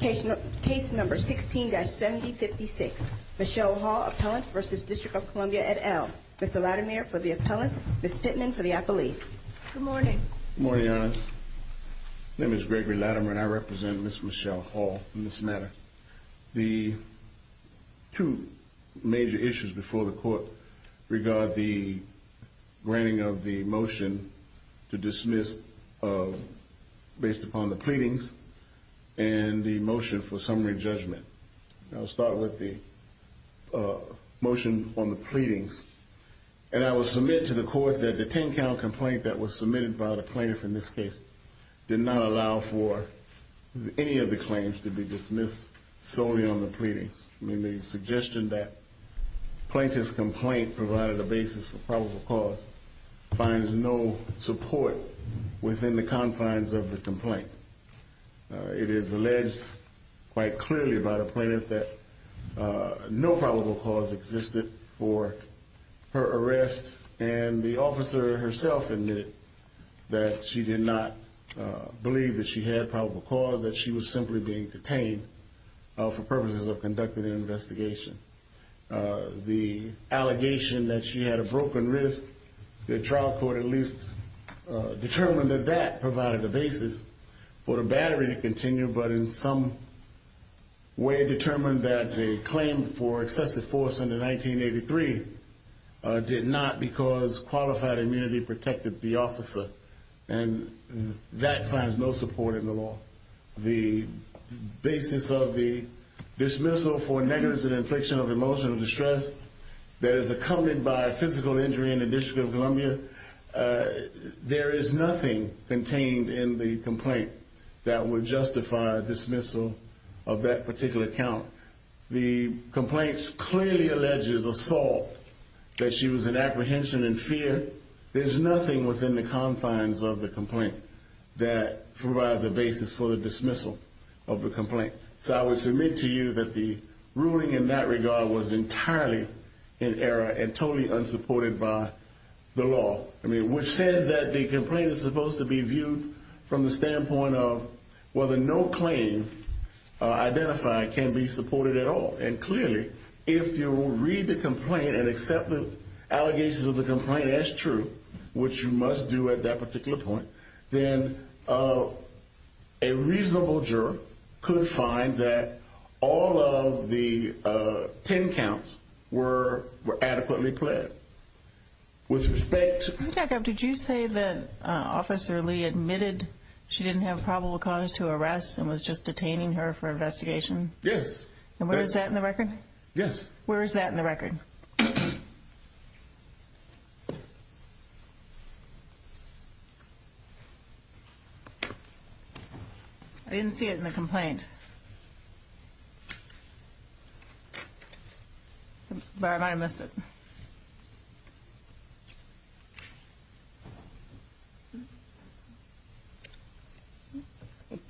Case No. 16-7056 Michele Hall vs. District of Columbia et al. Ms. Latimer for the appellant, Ms. Pittman for the appellees. Good morning. Good morning, Your Honor. My name is Gregory Latimer and I represent Ms. Michele Hall. In this matter, the two major issues before the court regard the granting of the motion to dismiss based upon the pleadings and the motion for summary judgment. I'll start with the motion on the pleadings. And I will submit to the court that the 10-count complaint that was submitted by the plaintiff in this case did not allow for any of the claims to be dismissed solely on the pleadings. The suggestion that the plaintiff's complaint provided a basis for probable cause finds no support within the confines of the complaint. It is alleged quite clearly by the plaintiff that no probable cause existed for her arrest and the officer herself admitted that she did not believe that she had probable cause, that she was simply being detained for purposes of conducting an investigation. The allegation that she had a broken wrist, the trial court at least determined that that provided a basis for the battery to continue but in some way determined that the claim for excessive force under 1983 did not because qualified immunity protected the officer. And that finds no support in the law. The basis of the dismissal for negligence and infliction of emotional distress that is accompanied by physical injury in the District of Columbia, there is nothing contained in the complaint that would justify dismissal of that particular count. The complaint clearly alleges assault, that she was in apprehension and fear. There's nothing within the confines of the complaint that provides a basis for the dismissal of the complaint. So I would submit to you that the ruling in that regard was entirely in error and totally unsupported by the law, which says that the complaint is supposed to be viewed from the standpoint of whether no claim identified can be supported at all. And clearly, if you will read the complaint and accept the allegations of the complaint as true, which you must do at that particular point, then a reasonable juror could find that all of the 10 counts were adequately pled with respect. Did you say that Officer Lee admitted she didn't have probable cause to arrest and was just detaining her for investigation? Yes. And where is that in the record? Yes. Where is that in the record? I didn't see it in the complaint. But I missed it.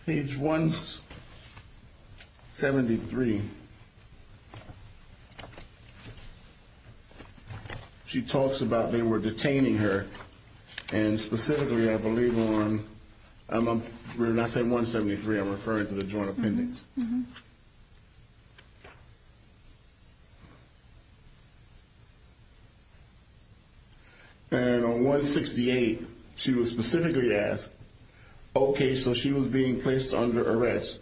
Page 173, she talks about they were detaining her. And specifically, I believe on, when I say 173, I'm referring to the joint appendix. And on 168, she was specifically asked, OK, so she was being placed under arrest.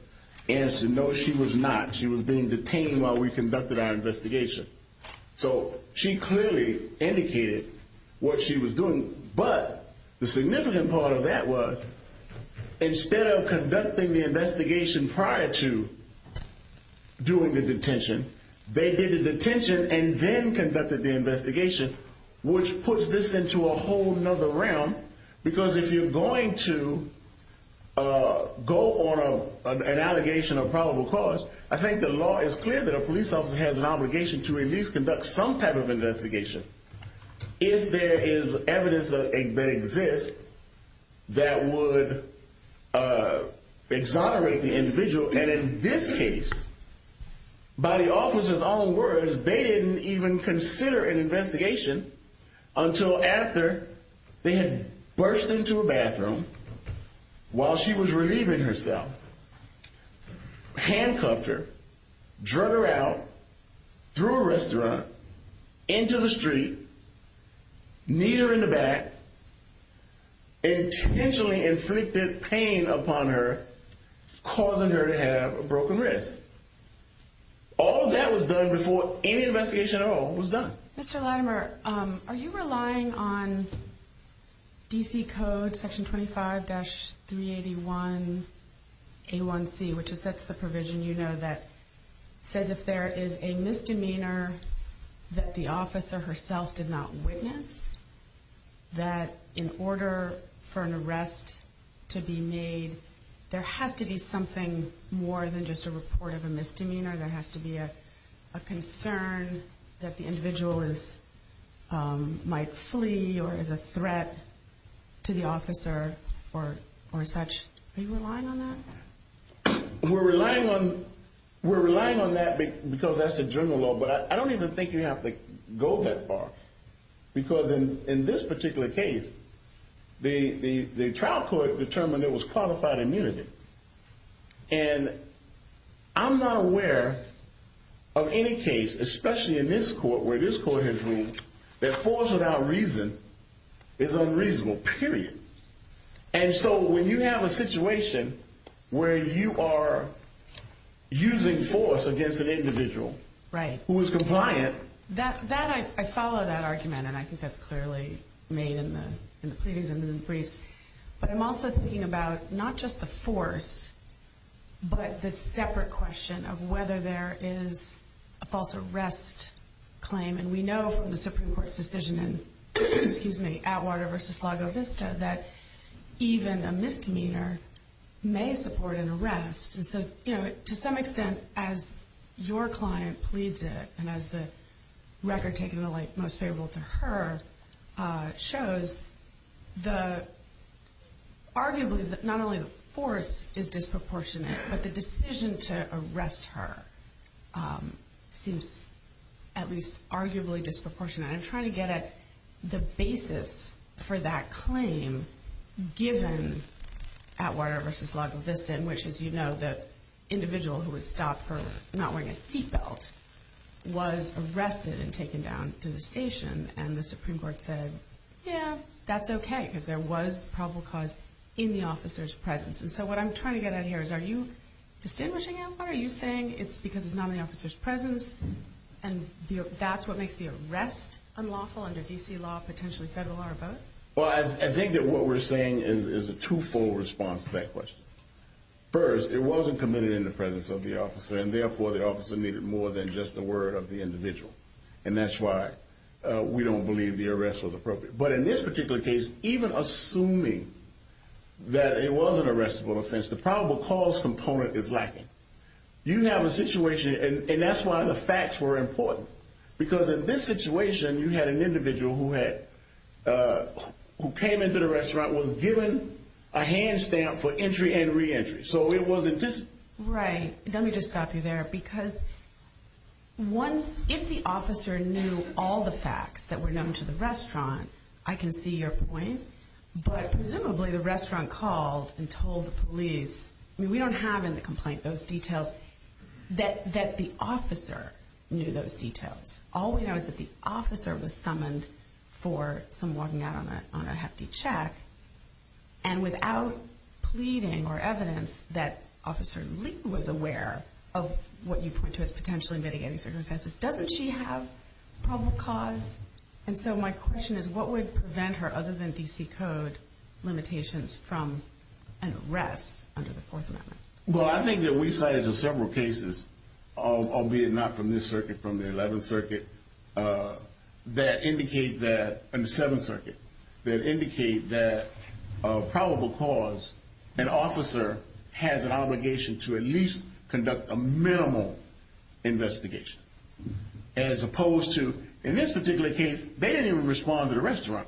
And no, she was not. She was being detained while we conducted our investigation. So she clearly indicated what she was doing. But the significant part of that was, instead of conducting the investigation prior to doing the detention, they did the detention and then conducted the investigation, which puts this into a whole other realm. Because if you're going to go on an allegation of probable cause, I think the law is clear that a police officer has an obligation to at least conduct some type of investigation if there is evidence that exists that would exonerate the individual. And in this case, by the officer's own words, they didn't even consider an investigation until after they had burst into a bathroom while she was relieving herself, handcuffed her, drug her out through a restaurant into the street, kneed her in the back, intentionally inflicted pain upon her, causing her to have a broken wrist. All of that was done before any investigation at all was done. Mr. Latimer, are you relying on D.C. Code Section 25-381A1C, which is the provision you know that says if there is a misdemeanor that the officer herself did not witness, that in order for an arrest to be made, there has to be something more than just a report of a misdemeanor. There has to be a concern that the individual might flee or is a threat to the officer or such. Are you relying on that? We're relying on that because that's the general law, but I don't even think you have to go that far. Because in this particular case, the trial court determined it was qualified immunity. And I'm not aware of any case, especially in this court where this court has ruled that force without reason is unreasonable, period. And so when you have a situation where you are using force against an individual who is compliant. I follow that argument, and I think that's clearly made in the pleadings and in the briefs. But I'm also thinking about not just the force, but the separate question of whether there is a false arrest claim. And we know from the Supreme Court's decision in Atwater v. Lago Vista that even a misdemeanor may support an arrest. And so to some extent, as your client pleads it, and as the record taking the light most favorable to her shows, arguably not only the force is disproportionate, but the decision to arrest her seems at least arguably disproportionate. And I'm trying to get at the basis for that claim given Atwater v. Lago Vista, in which, as you know, the individual who was stopped for not wearing a seat belt was arrested and taken down to the station. And the Supreme Court said, yeah, that's okay, because there was probable cause in the officer's presence. And so what I'm trying to get at here is, are you distinguishing Atwater? Are you saying it's because it's not in the officer's presence and that's what makes the arrest unlawful under D.C. law, potentially federal or both? Well, I think that what we're saying is a twofold response to that question. First, it wasn't committed in the presence of the officer, and therefore the officer needed more than just the word of the individual. And that's why we don't believe the arrest was appropriate. But in this particular case, even assuming that it was an arrestable offense, the probable cause component is lacking. You have a situation, and that's why the facts were important. Because in this situation, you had an individual who came into the restaurant, was given a hand stamp for entry and reentry. So it wasn't just... that the officer knew those details. All we know is that the officer was summoned for some walking out on a hefty check. And without pleading or evidence that Officer Lee was aware of what you point to as potentially mitigating circumstances, doesn't she have probable cause? And so my question is, what would prevent her, other than D.C. Code limitations, from an arrest under the Fourth Amendment? Well, I think that we cited several cases, albeit not from this circuit, from the Eleventh Circuit, that indicate that, and the Seventh Circuit, that indicate that probable cause, an officer has an obligation to at least conduct a minimal investigation. As opposed to, in this particular case, they didn't even respond to the restaurant.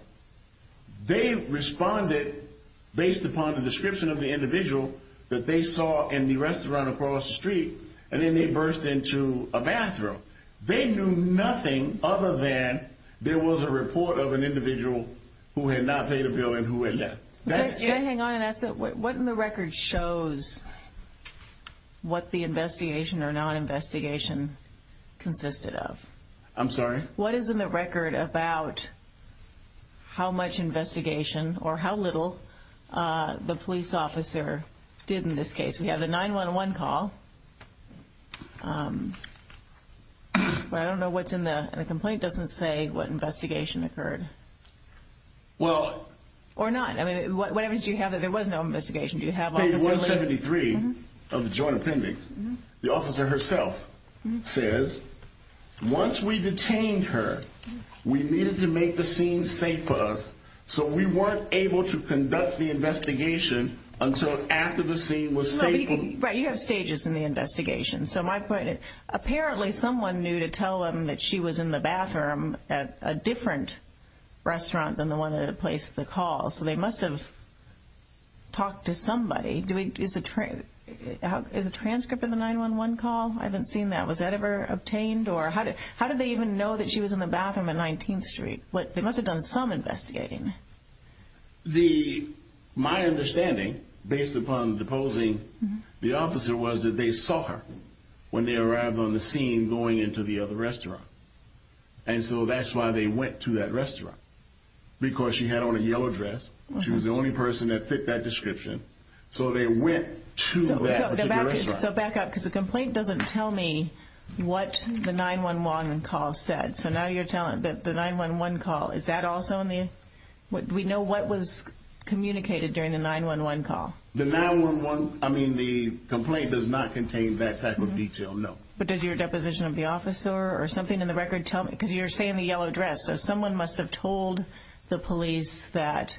They responded based upon the description of the individual that they saw in the restaurant across the street, and then they burst into a bathroom. They knew nothing other than there was a report of an individual who had not paid a bill and who had left. Can I hang on and ask that? What in the record shows what the investigation or non-investigation consisted of? I'm sorry? What is in the record about how much investigation, or how little, the police officer did in this case? We have the 911 call. But I don't know what's in the complaint. It doesn't say what investigation occurred. Well... Or not. I mean, what evidence do you have that there was no investigation? Do you have... Page 173 of the Joint Appendix. The officer herself says, once we detained her, we needed to make the scene safe for us, so we weren't able to conduct the investigation until after the scene was safe. Right, you have stages in the investigation. So my point is, apparently someone knew to tell them that she was in the bathroom at a different restaurant than the one that had placed the call, so they must have talked to somebody. Is a transcript of the 911 call? I haven't seen that. Was that ever obtained? Or how did they even know that she was in the bathroom at 19th Street? They must have done some investigating. The... My understanding, based upon deposing the officer, was that they saw her when they arrived on the scene going into the other restaurant. And so that's why they went to that restaurant. Because she had on a yellow dress, she was the only person that fit that description, so they went to that particular restaurant. Okay, so back up, because the complaint doesn't tell me what the 911 call said. So now you're telling me that the 911 call, is that also in the... Do we know what was communicated during the 911 call? The 911... I mean, the complaint does not contain that type of detail, no. But does your deposition of the officer or something in the record tell me... Because you're saying the yellow dress, so someone must have told the police that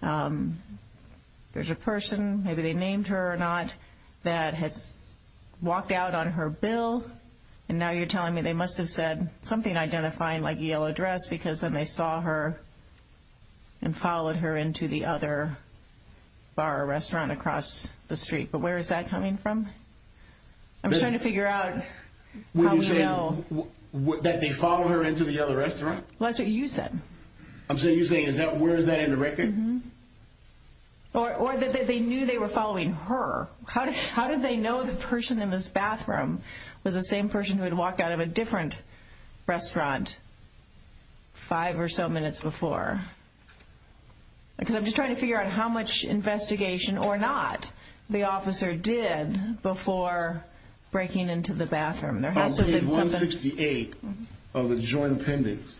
there's a person, maybe they named her or not, that has walked out on her bill, and now you're telling me they must have said something identifying like yellow dress, because then they saw her and followed her into the other bar or restaurant across the street. But where is that coming from? I'm trying to figure out how we know... What you're saying, that they followed her into the other restaurant? Well, that's what you said. I'm saying, you're saying, where is that in the record? Or that they knew they were following her. How did they know the person in this bathroom was the same person who had walked out of a different restaurant five or so minutes before? Because I'm just trying to figure out how much investigation or not the officer did before breaking into the bathroom. Page 168 of the joint appendix,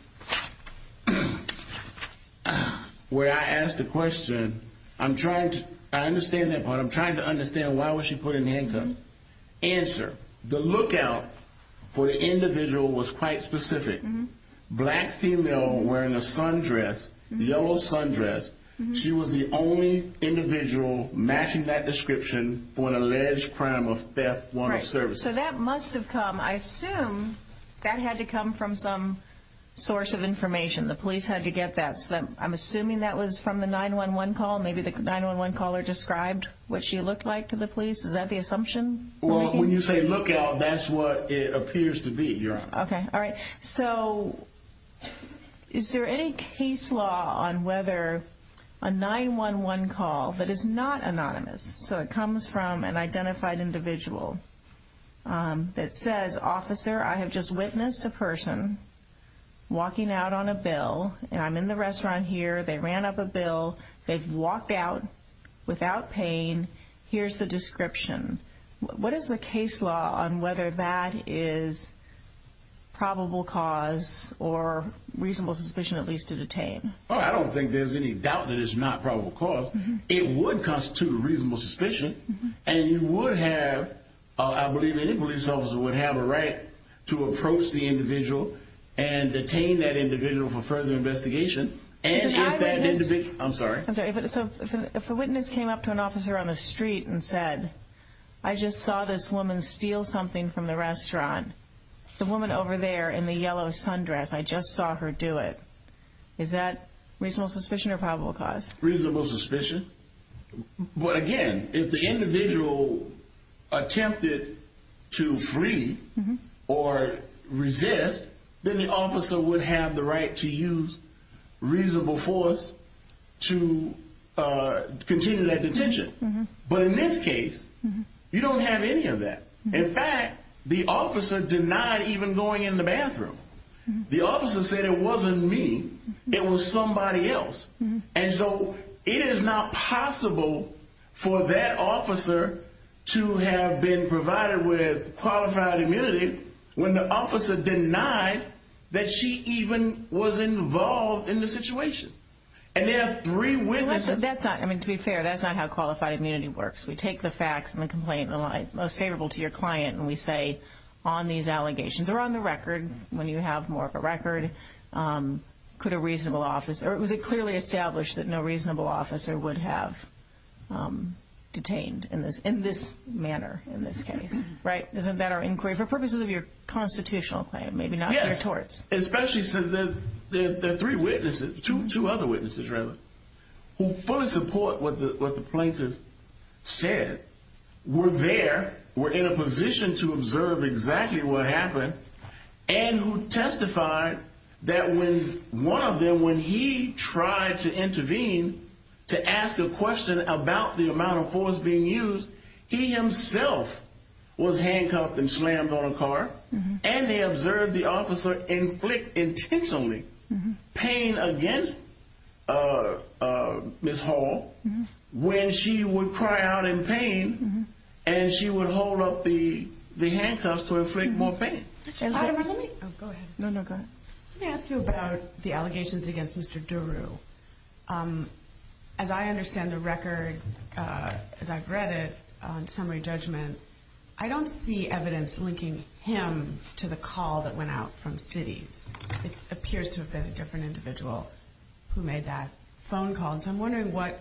where I asked the question, I'm trying to understand that part. I'm trying to understand why was she put in handcuffs. Answer, the lookout for the individual was quite specific. Black female wearing a sundress, yellow sundress. She was the only individual matching that description for an alleged crime of theft, one of services. So that must have come, I assume, that had to come from some source of information. The police had to get that. I'm assuming that was from the 911 call. Maybe the 911 caller described what she looked like to the police. Is that the assumption? Well, when you say lookout, that's what it appears to be, Your Honor. Okay. All right. So is there any case law on whether a 911 call that is not anonymous, so it comes from an identified individual that says, Officer, I have just witnessed a person walking out on a bill and I'm in the restaurant here. They ran up a bill. They've walked out without pain. Here's the description. What is the case law on whether that is probable cause or reasonable suspicion, at least to detain? Well, I don't think there's any doubt that it's not probable cause. It would constitute a reasonable suspicion. And you would have, I believe any police officer would have a right to approach the individual and detain that individual for further investigation. If a witness came up to an officer on the street and said, I just saw this woman steal something from the restaurant, the woman over there in the yellow sundress, I just saw her do it. Is that reasonable suspicion or probable cause? Reasonable suspicion. But again, if the individual attempted to flee or resist, then the officer would have the right to use reasonable force to continue that detention. But in this case, you don't have any of that. In fact, the officer denied even going in the bathroom. The officer said it wasn't me. It was somebody else. And so it is not possible for that officer to have been provided with qualified immunity when the officer denied that she even was involved in the situation. And there are three witnesses. So that's not, I mean, to be fair, that's not how qualified immunity works. We take the facts and the complaint and the lie most favorable to your client. And we say on these allegations or on the record, when you have more of a record, could a reasonable officer or was it clearly established that no reasonable officer would have detained in this in this manner in this case? Right. Isn't that our inquiry for purposes of your constitutional claim? Yes, especially since there are three witnesses, two other witnesses, rather, who fully support what the plaintiff said, were there, were in a position to observe exactly what happened and who testified that when one of them, when he tried to intervene to ask a question about the amount of force being used, he himself was handcuffed and slammed on a car. And they observed the officer inflict intentionally pain against Miss Hall when she would cry out in pain and she would hold up the handcuffs to inflict more pain. Let me ask you about the allegations against Mr. Daru. As I understand the record, as I've read it on summary judgment, I don't see evidence linking him to the call that went out from cities. It appears to have been a different individual who made that phone call. And so I'm wondering what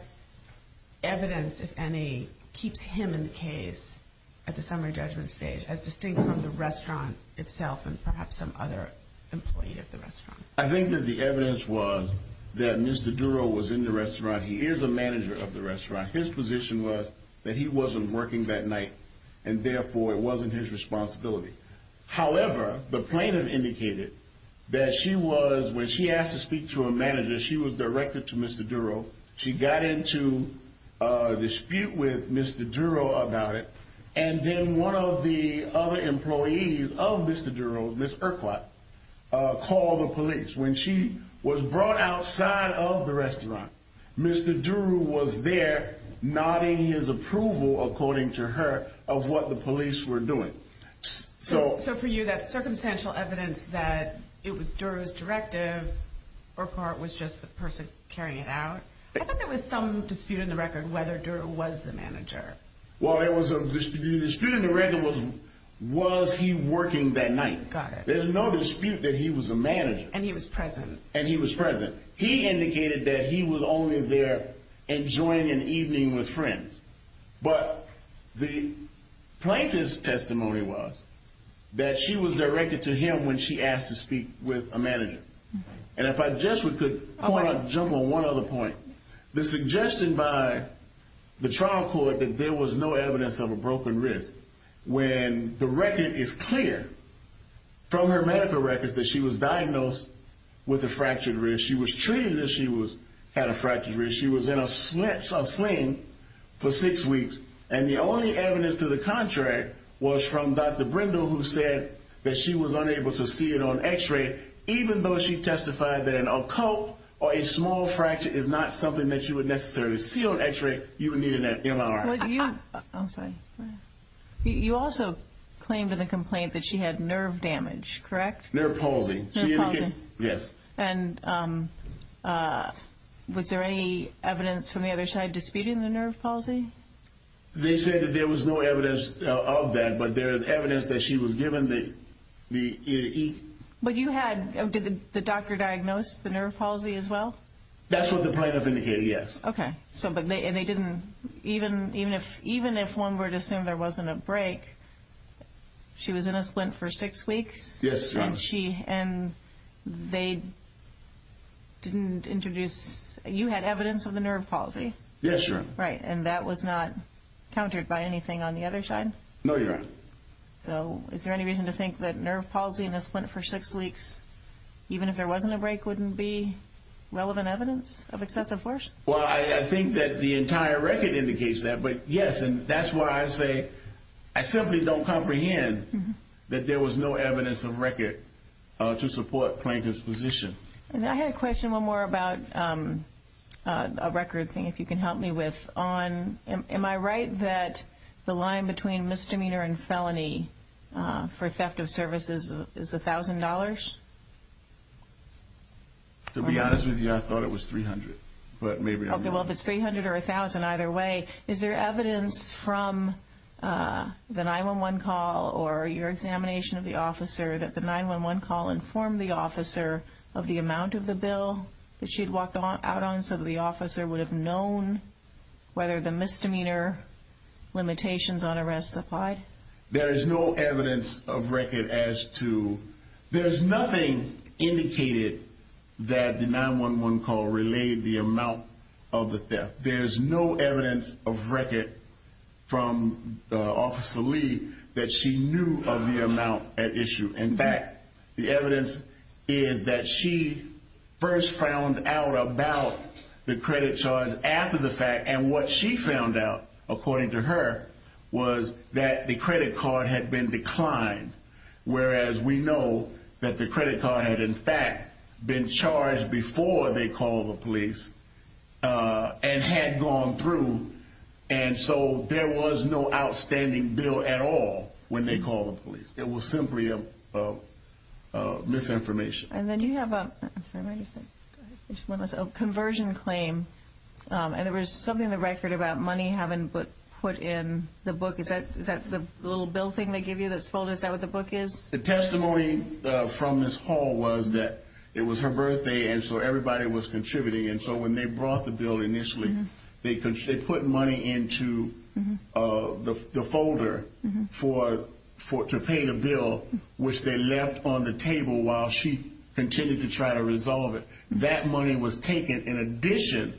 evidence, if any, keeps him in the case at the summary judgment stage as distinct from the restaurant itself and perhaps some other employee at the restaurant. I think that the evidence was that Mr. Daru was in the restaurant. He is a manager of the restaurant. His position was that he wasn't working that night and therefore it wasn't his responsibility. However, the plaintiff indicated that she was, when she asked to speak to a manager, she was directed to Mr. Daru. She got into a dispute with Mr. Daru about it. And then one of the other employees of Mr. Daru, Miss Urquhart, called the police when she was brought outside of the restaurant. Mr. Daru was there, nodding his approval, according to her, of what the police were doing. So for you, that's circumstantial evidence that it was Daru's directive, Urquhart was just the person carrying it out? I thought there was some dispute in the record whether Daru was the manager. Well, there was some dispute. The dispute in the record was, was he working that night? There's no dispute that he was a manager. And he was present. And he was present. He indicated that he was only there enjoying an evening with friends. But the plaintiff's testimony was that she was directed to him when she asked to speak with a manager. And if I just could jump on one other point. The suggestion by the trial court that there was no evidence of a broken wrist, when the record is clear from her medical records that she was diagnosed with a fractured wrist. She was treated as she had a fractured wrist. She was in a sling for six weeks. And the only evidence to the contract was from Dr. Brindle, who said that she was unable to see it on x-ray, even though she testified that an occult or a small fracture is not something that you would necessarily see on x-ray. You would need an MRI. You also claimed in the complaint that she had nerve damage, correct? Nerve palsy. Yes. And was there any evidence from the other side disputing the nerve palsy? They said that there was no evidence of that, but there is evidence that she was given the E. But you had, did the doctor diagnose the nerve palsy as well? That's what the plaintiff indicated, yes. Okay. And they didn't, even if one were to assume there wasn't a break, she was in a splint for six weeks? Yes, Your Honor. And they didn't introduce, you had evidence of the nerve palsy? Yes, Your Honor. Right. And that was not countered by anything on the other side? No, Your Honor. Okay. So is there any reason to think that nerve palsy in a splint for six weeks, even if there wasn't a break, wouldn't be relevant evidence of excessive force? Well, I think that the entire record indicates that, but yes, and that's why I say, I simply don't comprehend that there was no evidence of record to support plaintiff's position. And I had a question, one more about a record thing, if you can help me with, on, am I right that the line between misdemeanor and felony for theft of services is $1,000? To be honest with you, I thought it was $300, but maybe I'm wrong. There is no evidence of record as to, there's nothing indicated that the 911 call relayed the amount of the theft. There's no evidence of record from Officer Lee that she knew of the amount at issue. In fact, the evidence is that she first found out about the credit charge after the fact, and what she found out, according to her, was that the credit card had been declined. Whereas we know that the credit card had, in fact, been charged before they called the police and had gone through, and so there was no outstanding bill at all when they called the police. It was simply misinformation. And then you have a conversion claim, and there was something in the record about money having been put in the book. Is that the little bill thing they give you that's folded? Is that what the book is? The testimony from Ms. Hall was that it was her birthday, and so everybody was contributing, and so when they brought the bill initially, they put money into the folder to pay the bill, which they left on the table while she continued to try to resolve it. That money was taken in addition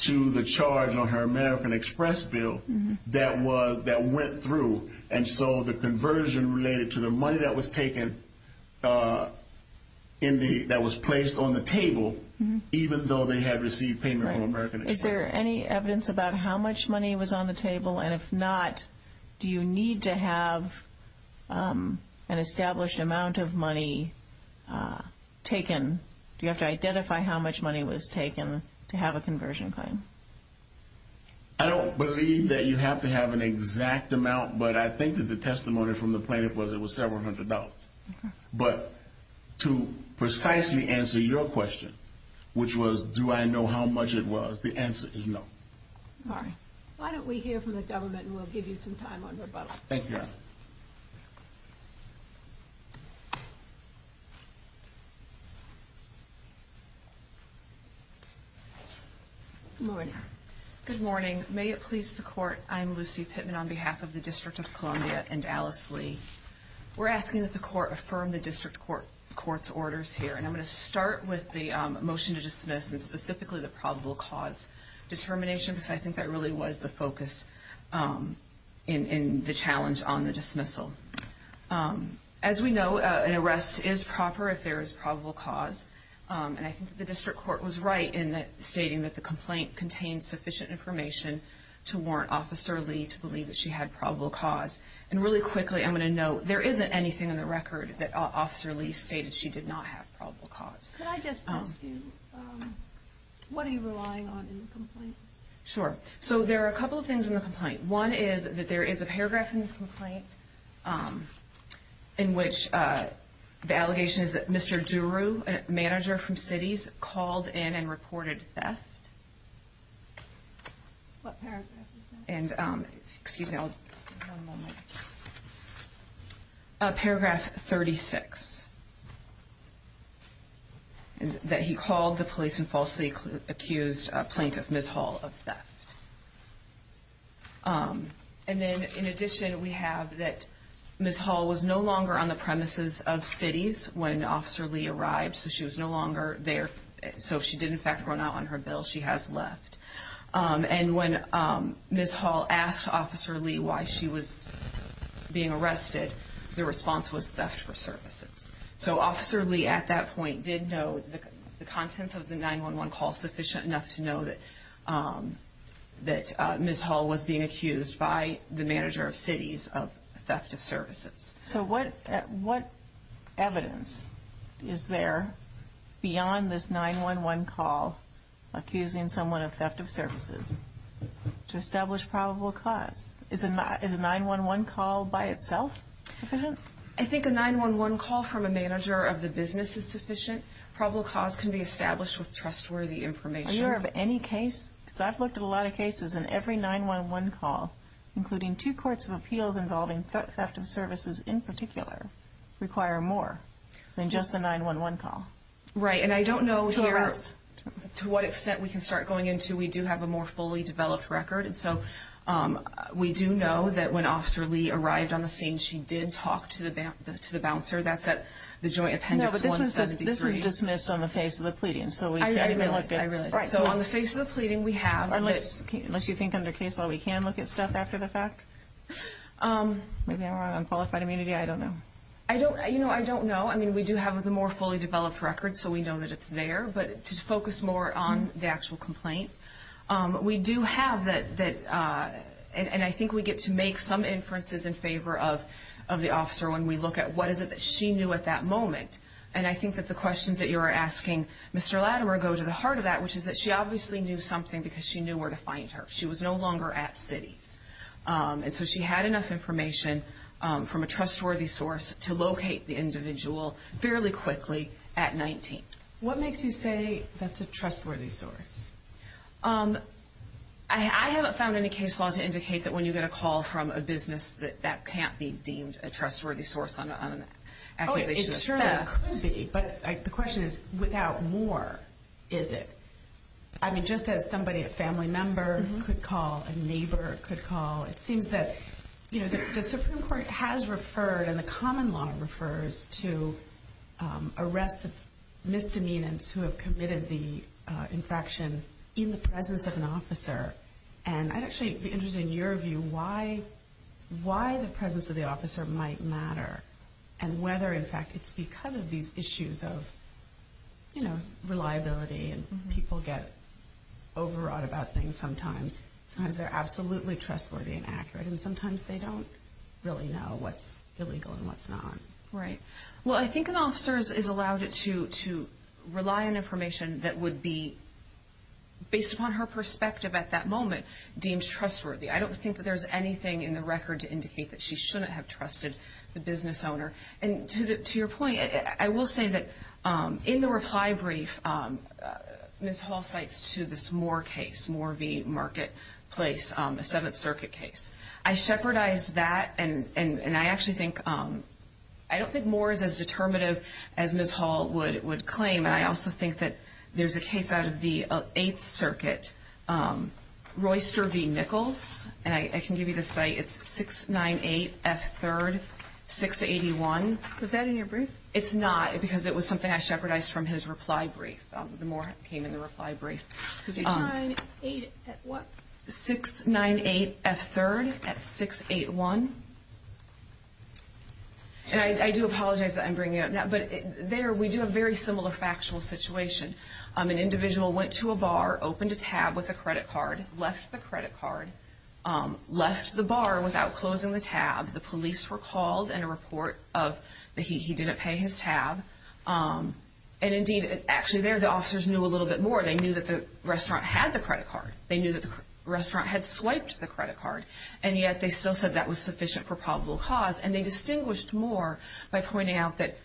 to the charge on her American Express bill that went through, and so the conversion related to the money that was placed on the table, even though they had received payment from American Express. Is there any evidence about how much money was on the table, and if not, do you need to have an established amount of money taken? Do you have to identify how much money was taken to have a conversion claim? I don't believe that you have to have an exact amount, but I think that the testimony from the plaintiff was it was several hundred dollars, but to precisely answer your question, which was do I know how much it was, the answer is no. All right. Why don't we hear from the government, and we'll give you some time on rebuttal. Good morning. Good morning. May it please the Court, I'm Lucy Pittman on behalf of the District of Columbia and Alice Lee. We're asking that the Court affirm the District Court's orders here, and I'm going to start with the motion to dismiss and specifically the probable cause determination, because I think that really was the focus in the challenge on the dismissal. As we know, an arrest is proper if there is probable cause, and I think the District Court was right in stating that the complaint contained sufficient information to warrant Officer Lee to believe that she had probable cause. And really quickly, I'm going to note, there isn't anything in the record that Officer Lee stated she did not have probable cause. Could I just ask you, what are you relying on in the complaint? Sure. So there are a couple of things in the complaint. One is that there is a paragraph in the complaint in which the allegation is that Mr. Duru, a manager from Cities, called in and reported theft. What paragraph is that? Paragraph 36. That he called the police and falsely accused Plaintiff Ms. Hall of theft. And then in addition, we have that Ms. Hall was no longer on the premises of Cities when Officer Lee arrived, so she was no longer there. So she did, in fact, run out on her bill. She has left. And when Ms. Hall asked Officer Lee why she was being arrested, the response was theft for services. So Officer Lee, at that point, did know the contents of the 911 call sufficient enough to know that Ms. Hall was being accused by the manager of Cities of theft of services. So what evidence is there beyond this 911 call accusing someone of theft of services to establish probable cause? Is a 911 call by itself sufficient? I think a 911 call from a manager of the business is sufficient. Probable cause can be established with trustworthy information. I've looked at a lot of cases and every 911 call, including two courts of appeals involving theft of services in particular, require more than just a 911 call. Right. And I don't know to what extent we can start going into. We do have a more fully developed record. And so we do know that when Officer Lee arrived on the scene, she did talk to the bouncer. That's at the Joint Appendix 173. That was dismissed on the face of the pleading. I realize. I realize. So on the face of the pleading, we have. Unless you think under case law, we can look at stuff after the fact? Maybe I'm on unqualified immunity. I don't know. I don't know. I mean, we do have the more fully developed records, so we know that it's there. But to focus more on the actual complaint, we do have that. And I think we get to make some inferences in favor of the officer when we look at what is it that she knew at that moment. And I think that the questions that you are asking, Mr. Latimer, go to the heart of that, which is that she obviously knew something because she knew where to find her. She was no longer at Cities. And so she had enough information from a trustworthy source to locate the individual fairly quickly at 19. What makes you say that's a trustworthy source? I haven't found any case law to indicate that when you get a call from a business, that that can't be deemed a trustworthy source on an accusation of theft. It certainly could be, but the question is, without more, is it? I mean, just as somebody, a family member could call, a neighbor could call, it seems that the Supreme Court has referred and the common law refers to arrests of misdemeanants who have committed the infraction in the presence of an officer. And I'd actually be interested in your view why the presence of the officer might matter and whether, in fact, it's because of these issues of, you know, reliability and people get overwrought about things sometimes. Sometimes they're absolutely trustworthy and accurate, and sometimes they don't really know what's illegal and what's not. Right. Well, I think an officer is allowed to rely on information that would be, based upon her perspective at that moment, deemed trustworthy. I don't think that there's anything in the record to indicate that she shouldn't have trusted the business owner. And to your point, I will say that in the reply brief, Ms. Hall cites to this Moore case, Moore v. Marketplace, a Seventh Circuit case. I shepherdized that, and I actually think, I don't think Moore is as determinative as Ms. Hall would claim, and I also think that there's a case out of the Eighth Circuit, Royster v. Nichols. And I can give you the site. It's 698F3rd, 681. Was that in your brief? It's not because it was something I shepherdized from his reply brief. The Moore came in the reply brief. 698 at what? 698F3rd at 681. And I do apologize that I'm bringing it up now, but there we do have a very similar factual situation. An individual went to a bar, opened a tab with a credit card, left the credit card, left the bar without closing the tab. The police were called and a report of that he didn't pay his tab. And, indeed, actually there the officers knew a little bit more. They knew that the restaurant had the credit card. They knew that the restaurant had swiped the credit card, and yet they still said that was sufficient for probable cause. And they distinguished Moore by pointing out that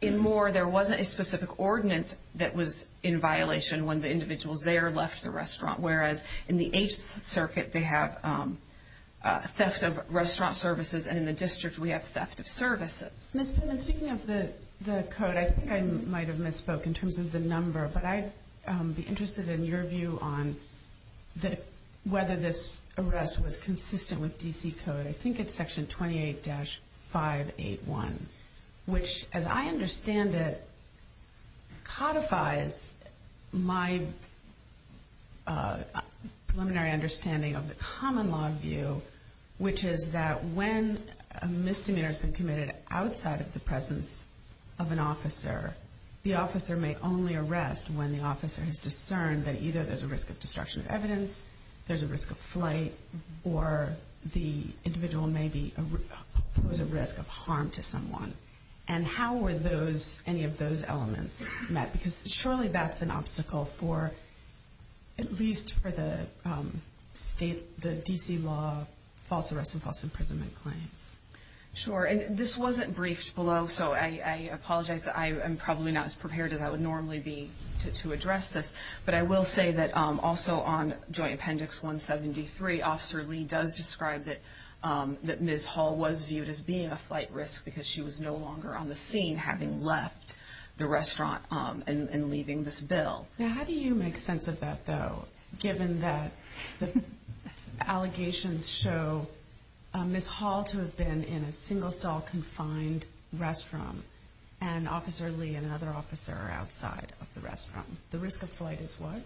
in Moore there wasn't a specific ordinance that was in violation when the individuals there left the restaurant, whereas in the Eighth Circuit they have theft of restaurant services and in the district we have theft of services. Ms. Pimlin, speaking of the code, I think I might have misspoke in terms of the number, but I'd be interested in your view on whether this arrest was consistent with D.C. code. I think it's Section 28-581, which, as I understand it, codifies my preliminary understanding of the common law view, which is that when a misdemeanor has been committed outside of the presence of an officer, the officer may only arrest when the officer has discerned that either there's a risk of destruction of evidence, there's a risk of flight, or the individual may pose a risk of harm to someone. And how were any of those elements met? Because surely that's an obstacle for, at least for the D.C. law, false arrest and false imprisonment claims. Sure. And this wasn't briefed below, so I apologize. I am probably not as prepared as I would normally be to address this. But I will say that also on Joint Appendix 173, Officer Lee does describe that Ms. Hall was viewed as being a flight risk because she was no longer on the scene having left the restaurant and leaving this bill. Now, how do you make sense of that, though, given that the allegations show Ms. Hall to have been in a single-stall confined restroom and Officer Lee and another officer are outside of the restroom? The risk of flight is what?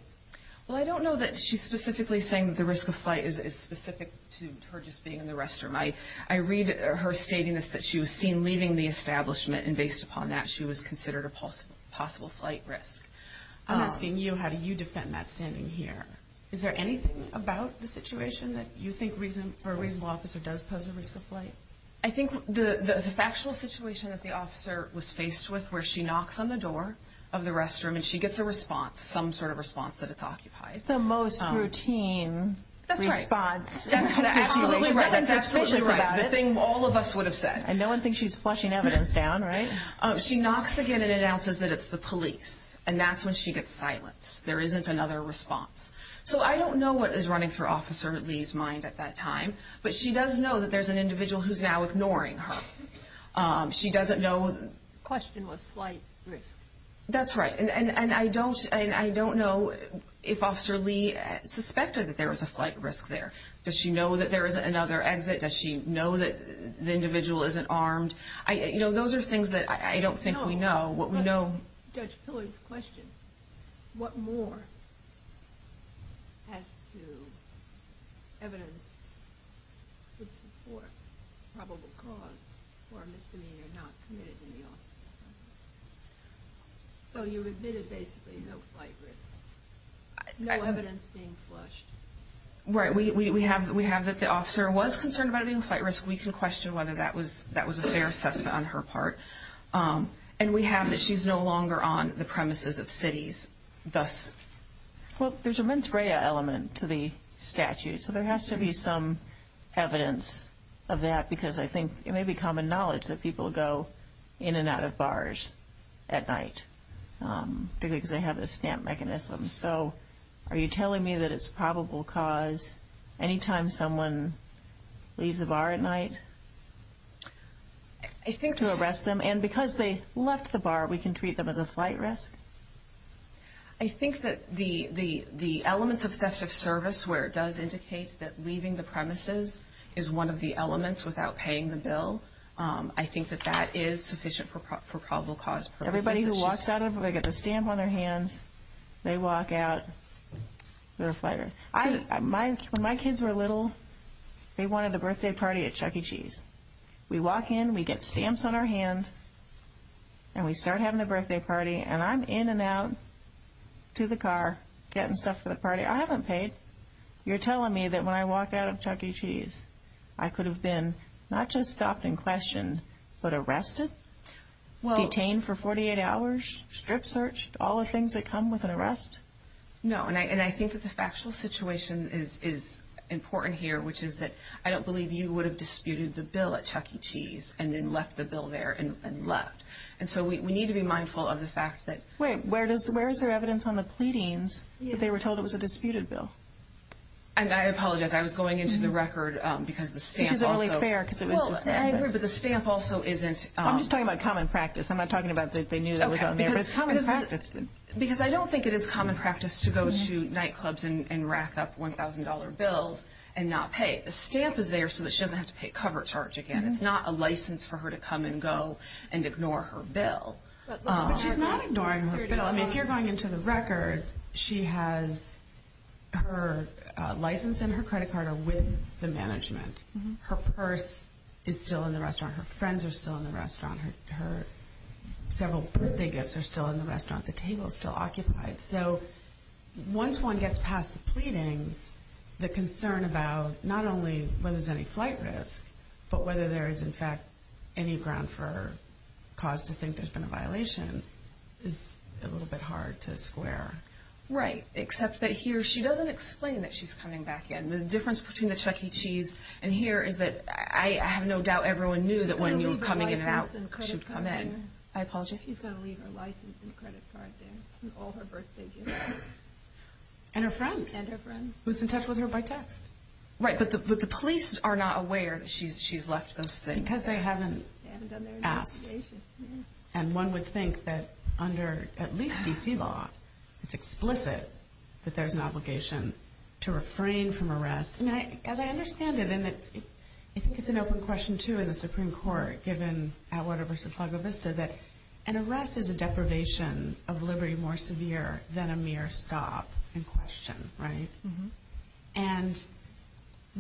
Well, I don't know that she's specifically saying the risk of flight is specific to her just being in the restroom. I read her stating this, that she was seen leaving the establishment, and based upon that, she was considered a possible flight risk. I'm asking you, how do you defend that standing here? Is there anything about the situation that you think for a reasonable officer does pose a risk of flight? I think the factual situation that the officer was faced with where she knocks on the door of the restroom and she gets a response, some sort of response, that it's occupied. The most routine response. That's right. That's absolutely right. The thing all of us would have said. And no one thinks she's flushing evidence down, right? She knocks again and announces that it's the police, and that's when she gets silence. There isn't another response. So I don't know what is running through Officer Lee's mind at that time, but she does know that there's an individual who's now ignoring her. She doesn't know. The question was flight risk. That's right. And I don't know if Officer Lee suspected that there was a flight risk there. Does she know that there is another exit? Does she know that the individual isn't armed? You know, those are things that I don't think we know. Judge Pillard's question. What more has to evidence support probable cause for a misdemeanor not committed in the office? So you admitted basically no flight risk. No evidence being flushed. Right. We have that the officer was concerned about it being a flight risk. We can question whether that was a fair assessment on her part. And we have that she's no longer on the premises of cities, thus. Well, there's a mens rea element to the statute, so there has to be some evidence of that because I think it may be common knowledge that people go in and out of bars at night because they have this stamp mechanism. So are you telling me that it's probable cause anytime someone leaves a bar at night? I think to arrest them. And because they left the bar, we can treat them as a flight risk? I think that the elements of theft of service where it does indicate that leaving the premises is one of the elements without paying the bill, I think that that is sufficient for probable cause purposes. Anybody who walks out, they get the stamp on their hands, they walk out, they're a fighter. When my kids were little, they wanted a birthday party at Chuck E. Cheese. We walk in, we get stamps on our hand, and we start having the birthday party, and I'm in and out to the car getting stuff for the party. I haven't paid. You're telling me that when I walk out of Chuck E. Cheese, I could have been not just stopped in question, but arrested, detained for 48 hours, strip searched, all the things that come with an arrest? No, and I think that the factual situation is important here, which is that I don't believe you would have disputed the bill at Chuck E. Cheese and then left the bill there and left. And so we need to be mindful of the fact that— Wait, where is there evidence on the pleadings that they were told it was a disputed bill? And I apologize, I was going into the record because the stamp also— Which is only fair because it was just there. Well, I agree, but the stamp also isn't— I'm just talking about common practice. I'm not talking about that they knew it was on there. But it's common practice. Because I don't think it is common practice to go to nightclubs and rack up $1,000 bills and not pay. The stamp is there so that she doesn't have to pay cover charge again. It's not a license for her to come and go and ignore her bill. But she's not ignoring her bill. If you're going into the record, she has her license and her credit card are with the management. Her purse is still in the restaurant. Her friends are still in the restaurant. Her several birthday gifts are still in the restaurant. The table is still occupied. So once one gets past the pleadings, the concern about not only whether there's any flight risk, but whether there is, in fact, any ground for cause to think there's been a violation is a little bit hard to square. Right. Except that here she doesn't explain that she's coming back in. The difference between the Chuck E. Cheese and here is that I have no doubt everyone knew that when you were coming in and out, she'd come in. I apologize. She's going to leave her license and credit card there and all her birthday gifts. And her friend. And her friend. Who's in touch with her by text. Right. But the police are not aware that she's left those things. Because they haven't asked. And one would think that under at least D.C. law, it's explicit that there's an obligation to refrain from arrest. As I understand it, and I think it's an open question, too, in the Supreme Court given Atwater v. severe than a mere stop and question. Right. And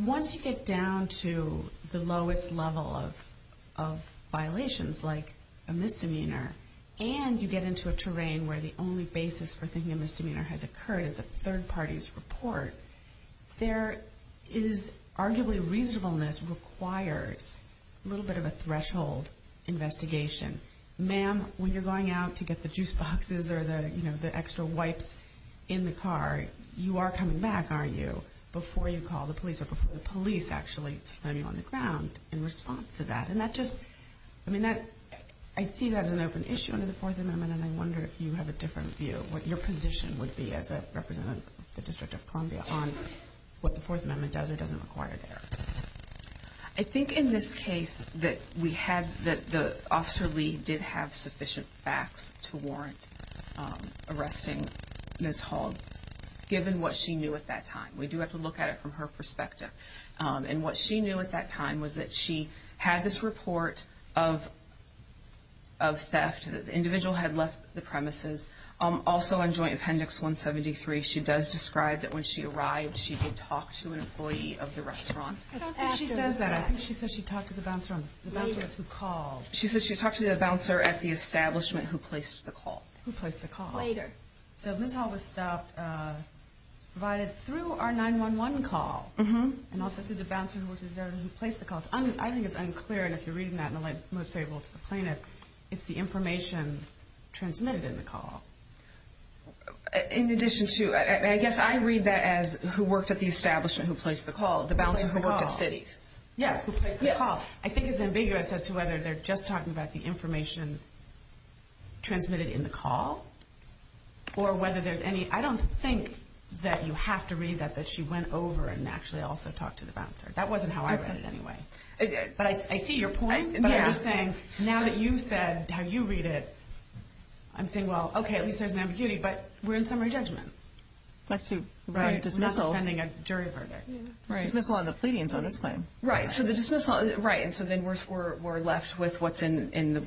once you get down to the lowest level of violations, like a misdemeanor, and you get into a terrain where the only basis for thinking a misdemeanor has occurred is a third party's report, there is arguably reasonableness requires a little bit of a threshold investigation. Ma'am, when you're going out to get the juice boxes or the, you know, the extra wipes in the car, you are coming back, aren't you, before you call the police or before the police actually slam you on the ground in response to that. And that just, I mean, that, I see that as an open issue under the Fourth Amendment, and I wonder if you have a different view, what your position would be as a representative of the District of Columbia on what the Fourth Amendment does or doesn't require there. I think in this case that we have, that Officer Lee did have sufficient facts to warrant arresting Ms. Hall, given what she knew at that time. We do have to look at it from her perspective. And what she knew at that time was that she had this report of theft, that the individual had left the premises. Also, on Joint Appendix 173, she does describe that when she arrived, she did talk to an employee of the restaurant. I don't think she says that. I think she said she talked to the bouncer. The bouncer is who called. She said she talked to the bouncer at the establishment who placed the call. Who placed the call. Later. So Ms. Hall was stopped, provided through our 911 call, and also through the bouncer who placed the call. I think it's unclear, and if you're reading that in the light most favorable to the plaintiff, it's the information transmitted in the call. In addition to, I guess I read that as who worked at the establishment who placed the call, the bouncer who worked at Citi's. Yeah, who placed the call. I think it's ambiguous as to whether they're just talking about the information transmitted in the call or whether there's any, I don't think that you have to read that, that she went over and actually also talked to the bouncer. That wasn't how I read it anyway. But I see your point, but I'm just saying now that you've said how you read it, I'm saying, well, okay, at least there's an ambiguity, but we're in summary judgment. Like to write a dismissal. We're not defending a jury verdict. Dismissal on the pleading is on this claim. Right, so the dismissal, right, and so then we're left with what's in the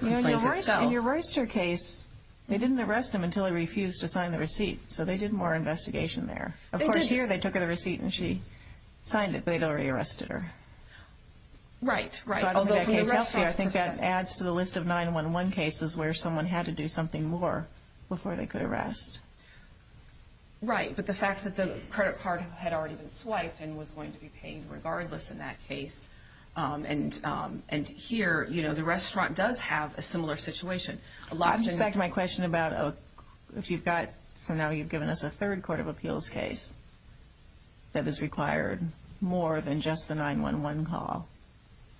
complaint itself. In your Royster case, they didn't arrest him until he refused to sign the receipt, so they did more investigation there. They did. They took a look at the receipt, and she signed it, but they'd already arrested her. Right, right. Although from the restaurant's perspective. I think that adds to the list of 911 cases where someone had to do something more before they could arrest. Right, but the fact that the credit card had already been swiped and was going to be paid regardless in that case, and here, you know, the restaurant does have a similar situation. Just back to my question about if you've got, so now you've given us a third court of appeals case that is required more than just the 911 call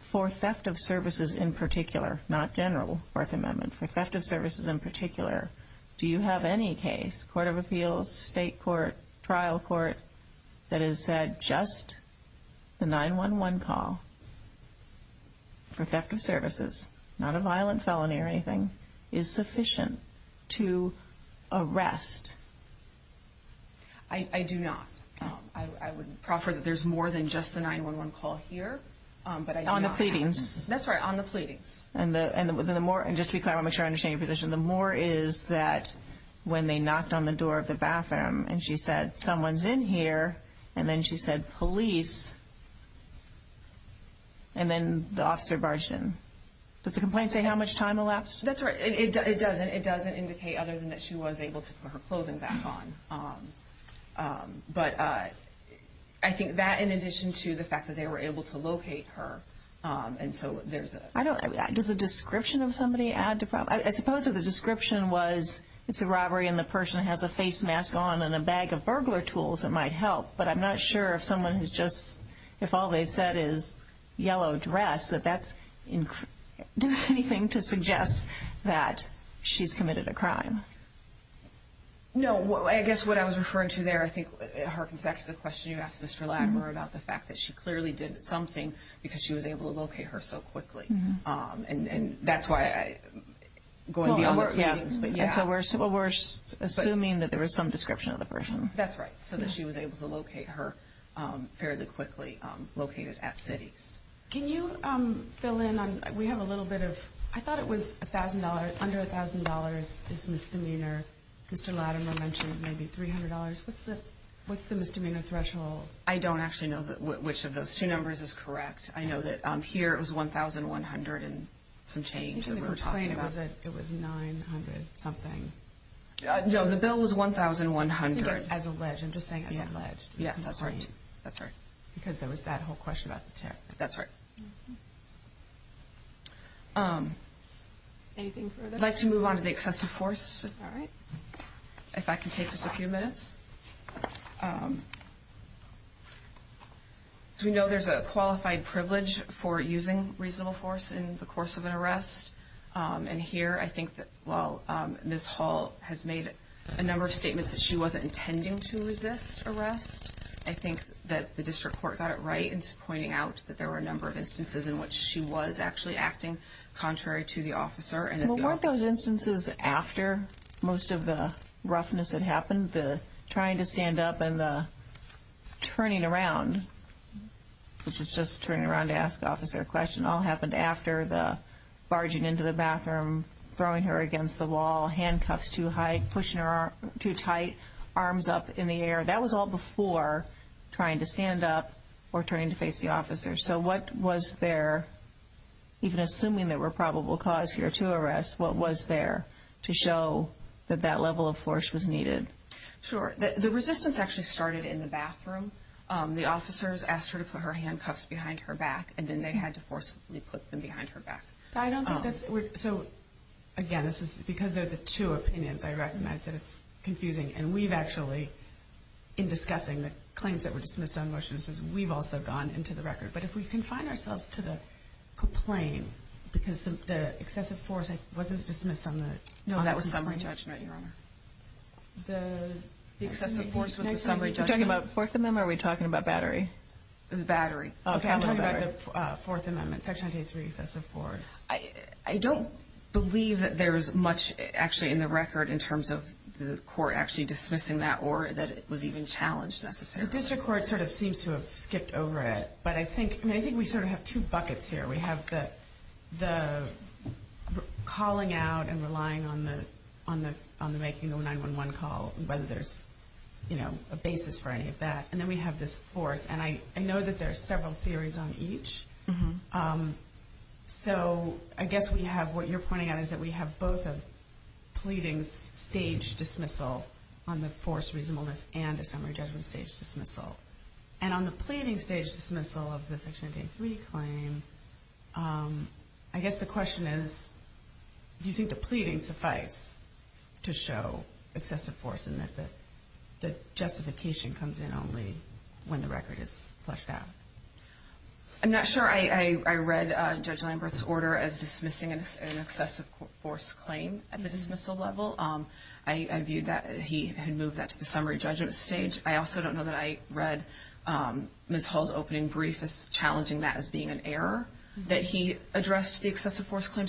for theft of services in particular, not general Fourth Amendment. For theft of services in particular, do you have any case, court of appeals, state court, trial court, that has said just the 911 call for theft of services, not a violent felony or anything, is sufficient to arrest? I do not. I would proffer that there's more than just the 911 call here, but I do not have that. On the pleadings. That's right, on the pleadings. And just to be clear, I want to make sure I understand your position. The more is that when they knocked on the door of the bathroom and she said, someone's in here, and then she said, police, and then the officer barged in. Does the complaint say how much time elapsed? That's right. It doesn't. It doesn't indicate other than that she was able to put her clothing back on. But I think that in addition to the fact that they were able to locate her, and so there's a... I don't... The description was, it's a robbery and the person has a face mask on and a bag of burglar tools that might help. But I'm not sure if someone who's just, if all they said is yellow dress, that that's... Does that have anything to suggest that she's committed a crime? No. I guess what I was referring to there, I think, harkens back to the question you asked Mr. Ladner about the fact that she clearly did something because she was able to locate her so quickly. And that's why I'm going beyond... Well, we're assuming that there was some description of the person. That's right, so that she was able to locate her fairly quickly, located at Cities. Can you fill in on, we have a little bit of, I thought it was $1,000, under $1,000 is misdemeanor. Mr. Ladner mentioned maybe $300. What's the misdemeanor threshold? I don't actually know which of those two numbers is correct. I know that here it was $1,100 and some change that we were talking about. I think in the complaint it was $900 something. No, the bill was $1,100. I think it was as alleged. I'm just saying as alleged. Yes, that's right. Because there was that whole question about the tariff. That's right. Anything further? I'd like to move on to the excessive force. All right. If I can take just a few minutes. So we know there's a qualified privilege for using reasonable force in the course of an arrest. And here I think that while Ms. Hall has made a number of statements that she wasn't intending to resist arrest, I think that the district court got it right in pointing out that there were a number of instances in which she was actually acting contrary to the officer. Well, weren't those instances after most of the roughness had happened? The trying to stand up and the turning around, which is just turning around to ask the officer a question, all happened after the barging into the bathroom, throwing her against the wall, handcuffs too high, pushing her too tight, arms up in the air. That was all before trying to stand up or turning to face the officer. So what was there, even assuming there were probable cause here to arrest, what was there to show that that level of force was needed? Sure. The resistance actually started in the bathroom. The officers asked her to put her handcuffs behind her back, and then they had to forcibly put them behind her back. I don't think that's – so, again, because they're the two opinions, I recognize that it's confusing. And we've actually, in discussing the claims that were dismissed on motion, we've also gone into the record. But if we confine ourselves to the complaint, because the excessive force wasn't dismissed on the complaint. No, that was summary judgment, Your Honor. The excessive force was the summary judgment. Are you talking about Fourth Amendment or are we talking about battery? Battery. Okay, I'm talking about the Fourth Amendment, Section 983, excessive force. I don't believe that there's much actually in the record in terms of the court actually dismissing that or that it was even challenged necessarily. The district court sort of seems to have skipped over it, but I think we sort of have two buckets here. We have the calling out and relying on the making of a 911 call, whether there's a basis for any of that. And then we have this force, and I know that there are several theories on each. So I guess we have – what you're pointing out is that we have both a pleading stage dismissal on the force reasonableness and a summary judgment stage dismissal. And on the pleading stage dismissal of the Section 983 claim, I guess the question is, do you think the pleading suffice to show excessive force and that the justification comes in only when the record is flushed out? I'm not sure. I read Judge Leinberth's order as dismissing an excessive force claim at the dismissal level. I view that he had moved that to the summary judgment stage. I also don't know that I read Ms. Hall's opening brief as challenging that as being an error, that he addressed the excessive force claim.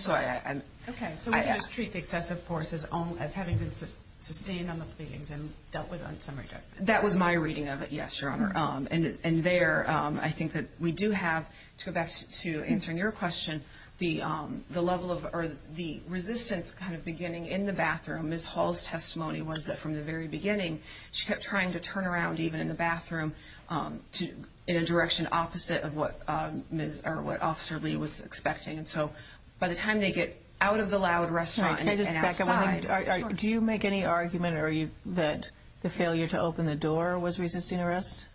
Okay. So we just treat the excessive force as having been sustained on the pleadings and dealt with on summary judgment. That was my reading of it, yes, Your Honor. And there I think that we do have, to go back to answering your question, the level of the resistance kind of beginning in the bathroom. Ms. Hall's testimony was that from the very beginning, she kept trying to turn around even in the bathroom in a direction opposite of what Officer Lee was expecting. And so by the time they get out of the loud restaurant and outside. Do you make any argument that the failure to open the door was resisting arrest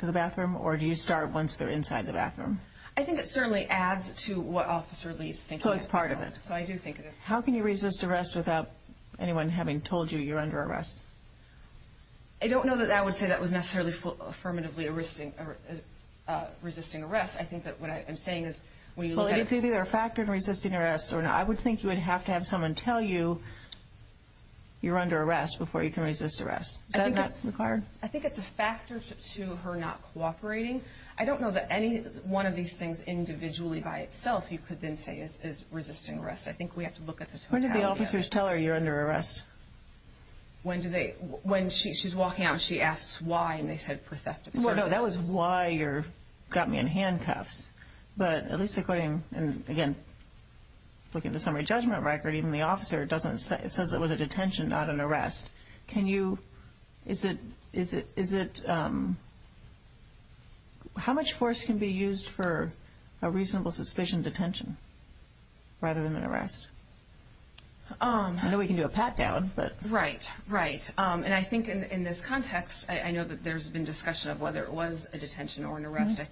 to the bathroom, or do you start once they're inside the bathroom? I think it certainly adds to what Officer Lee's thinking. So it's part of it. So I do think it is part of it. How can you resist arrest without anyone having told you you're under arrest? I don't know that I would say that was necessarily affirmatively resisting arrest. I think that what I'm saying is when you look at it. Well, it's either a factor in resisting arrest, or I would think you would have to have someone tell you you're under arrest before you can resist arrest. Is that not required? I think it's a factor to her not cooperating. I don't know that any one of these things individually by itself you could then say is resisting arrest. I think we have to look at the totality of it. When did the officers tell her you're under arrest? When she's walking out and she asks why, and they said for theft of services. No, that was why you got me in handcuffs. But at least according, again, looking at the summary judgment record, even the officer says it was a detention, not an arrest. Can you, is it, how much force can be used for a reasonable suspicion of detention rather than an arrest? I know we can do a pat down. Right, right, and I think in this context, I know that there's been discussion of whether it was a detention or an arrest. I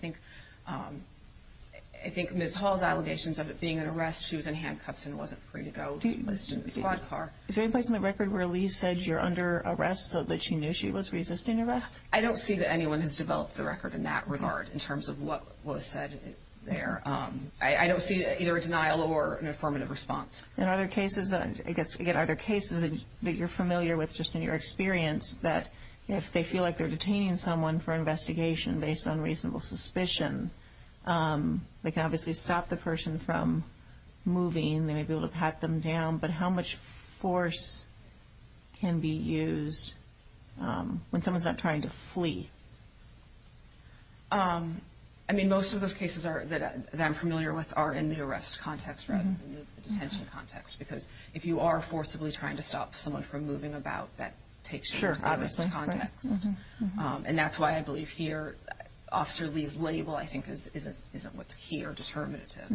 think Ms. Hall's allegations of it being an arrest, she was in handcuffs and wasn't free to go to the squad car. Is there any place in the record where Lee said you're under arrest so that she knew she was resisting arrest? I don't see that anyone has developed the record in that regard in terms of what was said there. I don't see either a denial or an affirmative response. And are there cases, I guess, again, are there cases that you're familiar with just in your experience that if they feel like they're detaining someone for investigation based on reasonable suspicion, they can obviously stop the person from moving, they may be able to pat them down, but how much force can be used when someone's not trying to flee? I mean, most of those cases that I'm familiar with are in the arrest context rather than the detention context because if you are forcibly trying to stop someone from moving about, that takes to the arrest context. And that's why I believe here Officer Lee's label, I think, isn't what's key or determinative.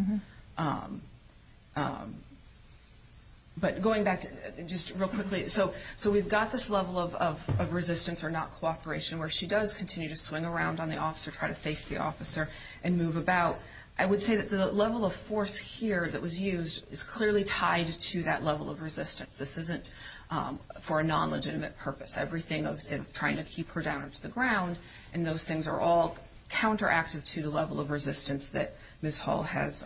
But going back just real quickly, so we've got this level of resistance or not cooperation where she does continue to swing around on the officer, try to face the officer and move about. I would say that the level of force here that was used is clearly tied to that level of resistance. This isn't for a non-legitimate purpose. Everything of trying to keep her down to the ground and those things are all counteractive to the level of resistance that Ms. Hall has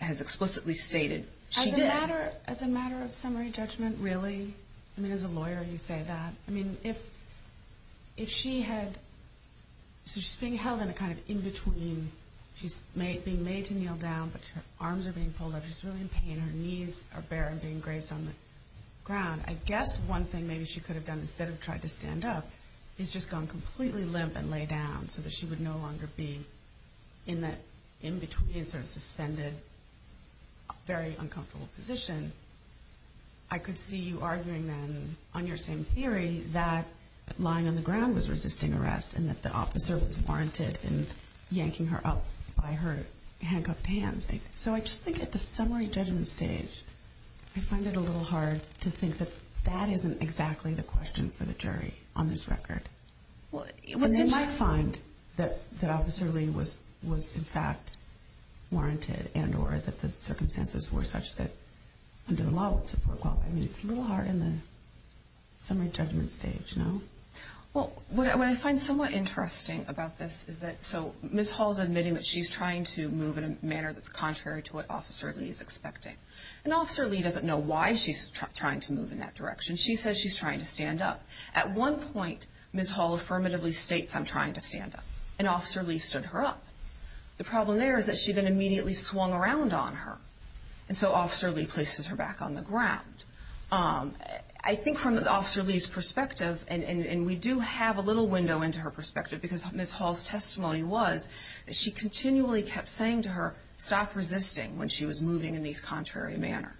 explicitly stated she did. As a matter of summary judgment, really? I mean, as a lawyer, you say that? I mean, if she had – so she's being held in a kind of in-between. She's being made to kneel down, but her arms are being pulled up. She's really in pain. Her knees are bare and being graced on the ground. I guess one thing maybe she could have done instead of tried to stand up is just gone completely limp and lay down so that she would no longer be in that in-between sort of suspended, very uncomfortable position. I could see you arguing then on your same theory that lying on the ground was resisting arrest and that the officer was warranted in yanking her up by her handcuffed hands. So I just think at the summary judgment stage, I find it a little hard to think that that isn't exactly the question for the jury on this record. And they might find that Officer Lee was in fact warranted and or that the circumstances were such that under the law it would support equality. I mean, it's a little hard in the summary judgment stage, no? Well, what I find somewhat interesting about this is that – so Ms. Hall is admitting that she's trying to move in a manner that's contrary to what Officer Lee is expecting. And Officer Lee doesn't know why she's trying to move in that direction. She says she's trying to stand up. At one point, Ms. Hall affirmatively states, I'm trying to stand up, and Officer Lee stood her up. The problem there is that she then immediately swung around on her, and so Officer Lee places her back on the ground. I think from Officer Lee's perspective, and we do have a little window into her perspective because Ms. Hall's testimony was that she continually kept saying to her, stop resisting when she was moving in this contrary manner.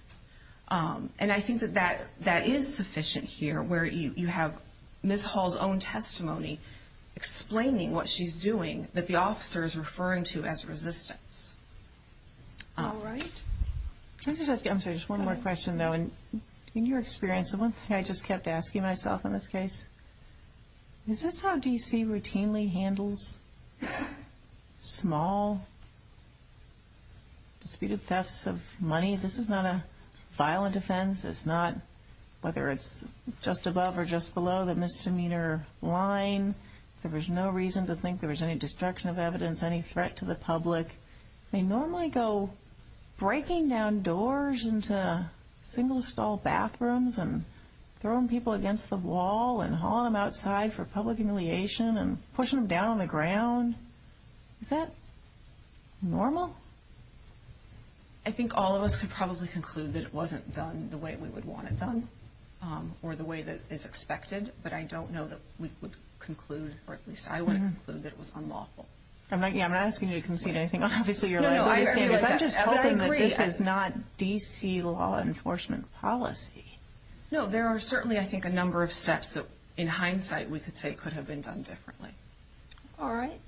And I think that that is sufficient here where you have Ms. Hall's own testimony explaining what she's doing that the officer is referring to as resistance. All right. I'm sorry, just one more question, though. In your experience, the one thing I just kept asking myself in this case, is this how D.C. routinely handles small disputed thefts of money? This is not a violent offense. It's not whether it's just above or just below the misdemeanor line. There was no reason to think there was any destruction of evidence, any threat to the public. They normally go breaking down doors into single-stall bathrooms and throwing people against the wall and hauling them outside for public humiliation and pushing them down on the ground. Is that normal? I think all of us could probably conclude that it wasn't done the way we would want it done or the way that is expected, but I don't know that we would conclude, or at least I wouldn't conclude that it was unlawful. I'm not asking you to concede anything. I'm just hoping that this is not D.C. law enforcement policy. No, there are certainly, I think, a number of steps that, in hindsight, we could say could have been done differently. All right.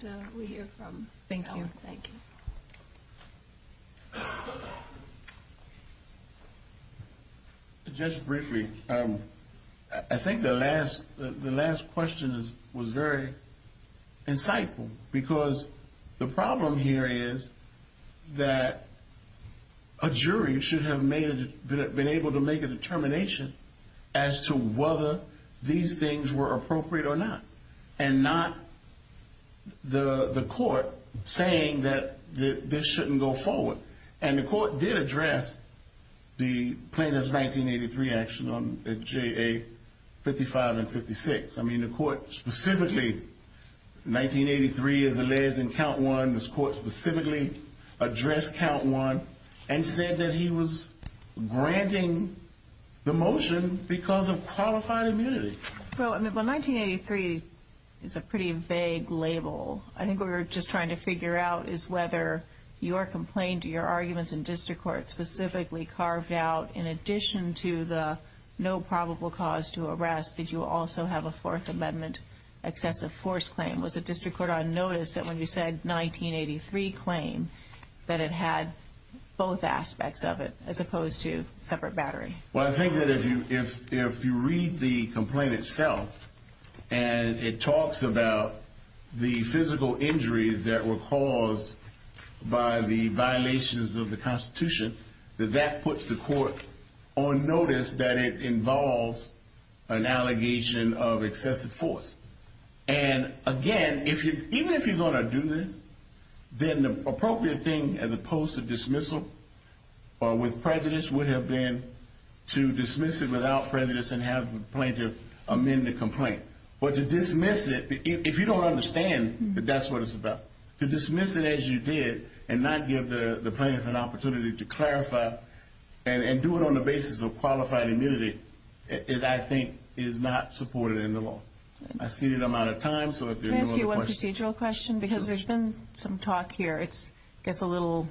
Thank you. Thank you. Just briefly, I think the last question was very insightful because the problem here is that a jury should have been able to make a determination as to whether these things were appropriate or not and not the court saying that this shouldn't go forward. And the court did address the Plaintiff's 1983 action on JA 55 and 56. I mean, the court specifically, 1983 is alleged in count one. This court specifically addressed count one and said that he was granting the motion because of qualified immunity. Well, 1983 is a pretty vague label. I think what we're just trying to figure out is whether your complaint, your arguments in district court specifically carved out, in addition to the no probable cause to arrest, did you also have a Fourth Amendment excessive force claim? Was the district court on notice that when you said 1983 claim that it had both aspects of it as opposed to separate battery? Well, I think that if you read the complaint itself and it talks about the physical injuries that were caused by the violations of the Constitution, that that puts the court on notice that it involves an allegation of excessive force. And, again, even if you're going to do this, then the appropriate thing as opposed to dismissal with prejudice would have been to dismiss it without prejudice and have the plaintiff amend the complaint. But to dismiss it, if you don't understand that that's what it's about, to dismiss it as you did and not give the plaintiff an opportunity to clarify and do it on the basis of qualified immunity, it, I think, is not supported in the law. I see that I'm out of time, so if there are no other questions. Can I ask you one procedural question? Sure. Because there's been some talk here. It gets a little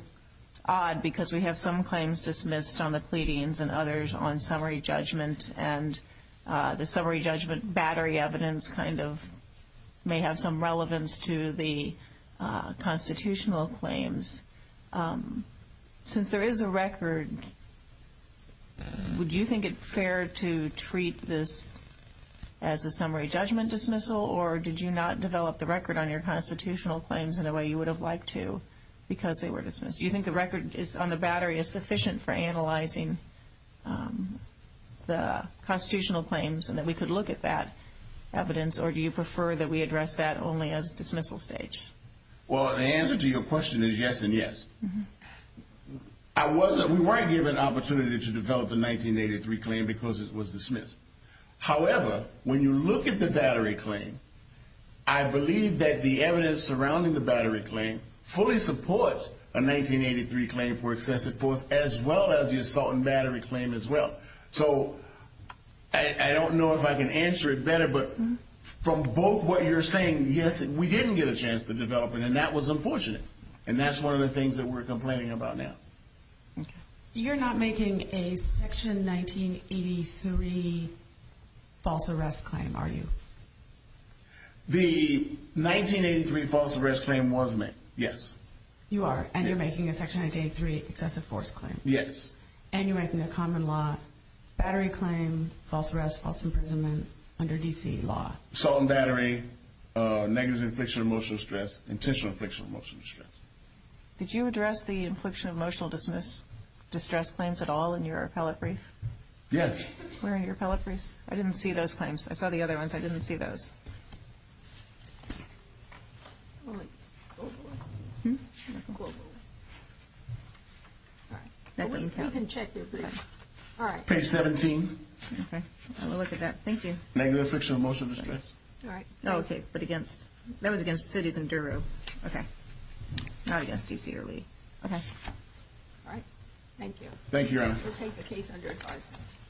odd because we have some claims dismissed on the pleadings and others on summary judgment, and the summary judgment battery evidence kind of may have some relevance to the constitutional claims. Since there is a record, would you think it fair to treat this as a summary judgment dismissal, or did you not develop the record on your constitutional claims in a way you would have liked to because they were dismissed? Do you think the record on the battery is sufficient for analyzing the constitutional claims and that we could look at that evidence, or do you prefer that we address that only as dismissal stage? Well, the answer to your question is yes and yes. We weren't given an opportunity to develop the 1983 claim because it was dismissed. However, when you look at the battery claim, I believe that the evidence surrounding the battery claim fully supports a 1983 claim for excessive force as well as the assault and battery claim as well. So I don't know if I can answer it better, but from both what you're saying, yes, we didn't get a chance to develop it, and that was unfortunate, and that's one of the things that we're complaining about now. You're not making a Section 1983 false arrest claim, are you? The 1983 false arrest claim was made, yes. You are, and you're making a Section 1983 excessive force claim. Yes. And you're making a common law battery claim, false arrest, false imprisonment under D.C. law. Assault and battery, negative infliction of emotional distress, intentional infliction of emotional distress. Did you address the infliction of emotional distress claims at all in your appellate brief? Yes. Where in your appellate briefs? I didn't see those claims. I saw the other ones. I didn't see those. Page 17. Okay. I'll look at that. Thank you. Negative infliction of emotional distress. All right. Oh, okay, but against – that was against cities in Daru. Okay. Not against D.C. or Lee. Okay. All right. Thank you. Thank you, Your Honor. We'll take the case under advisement.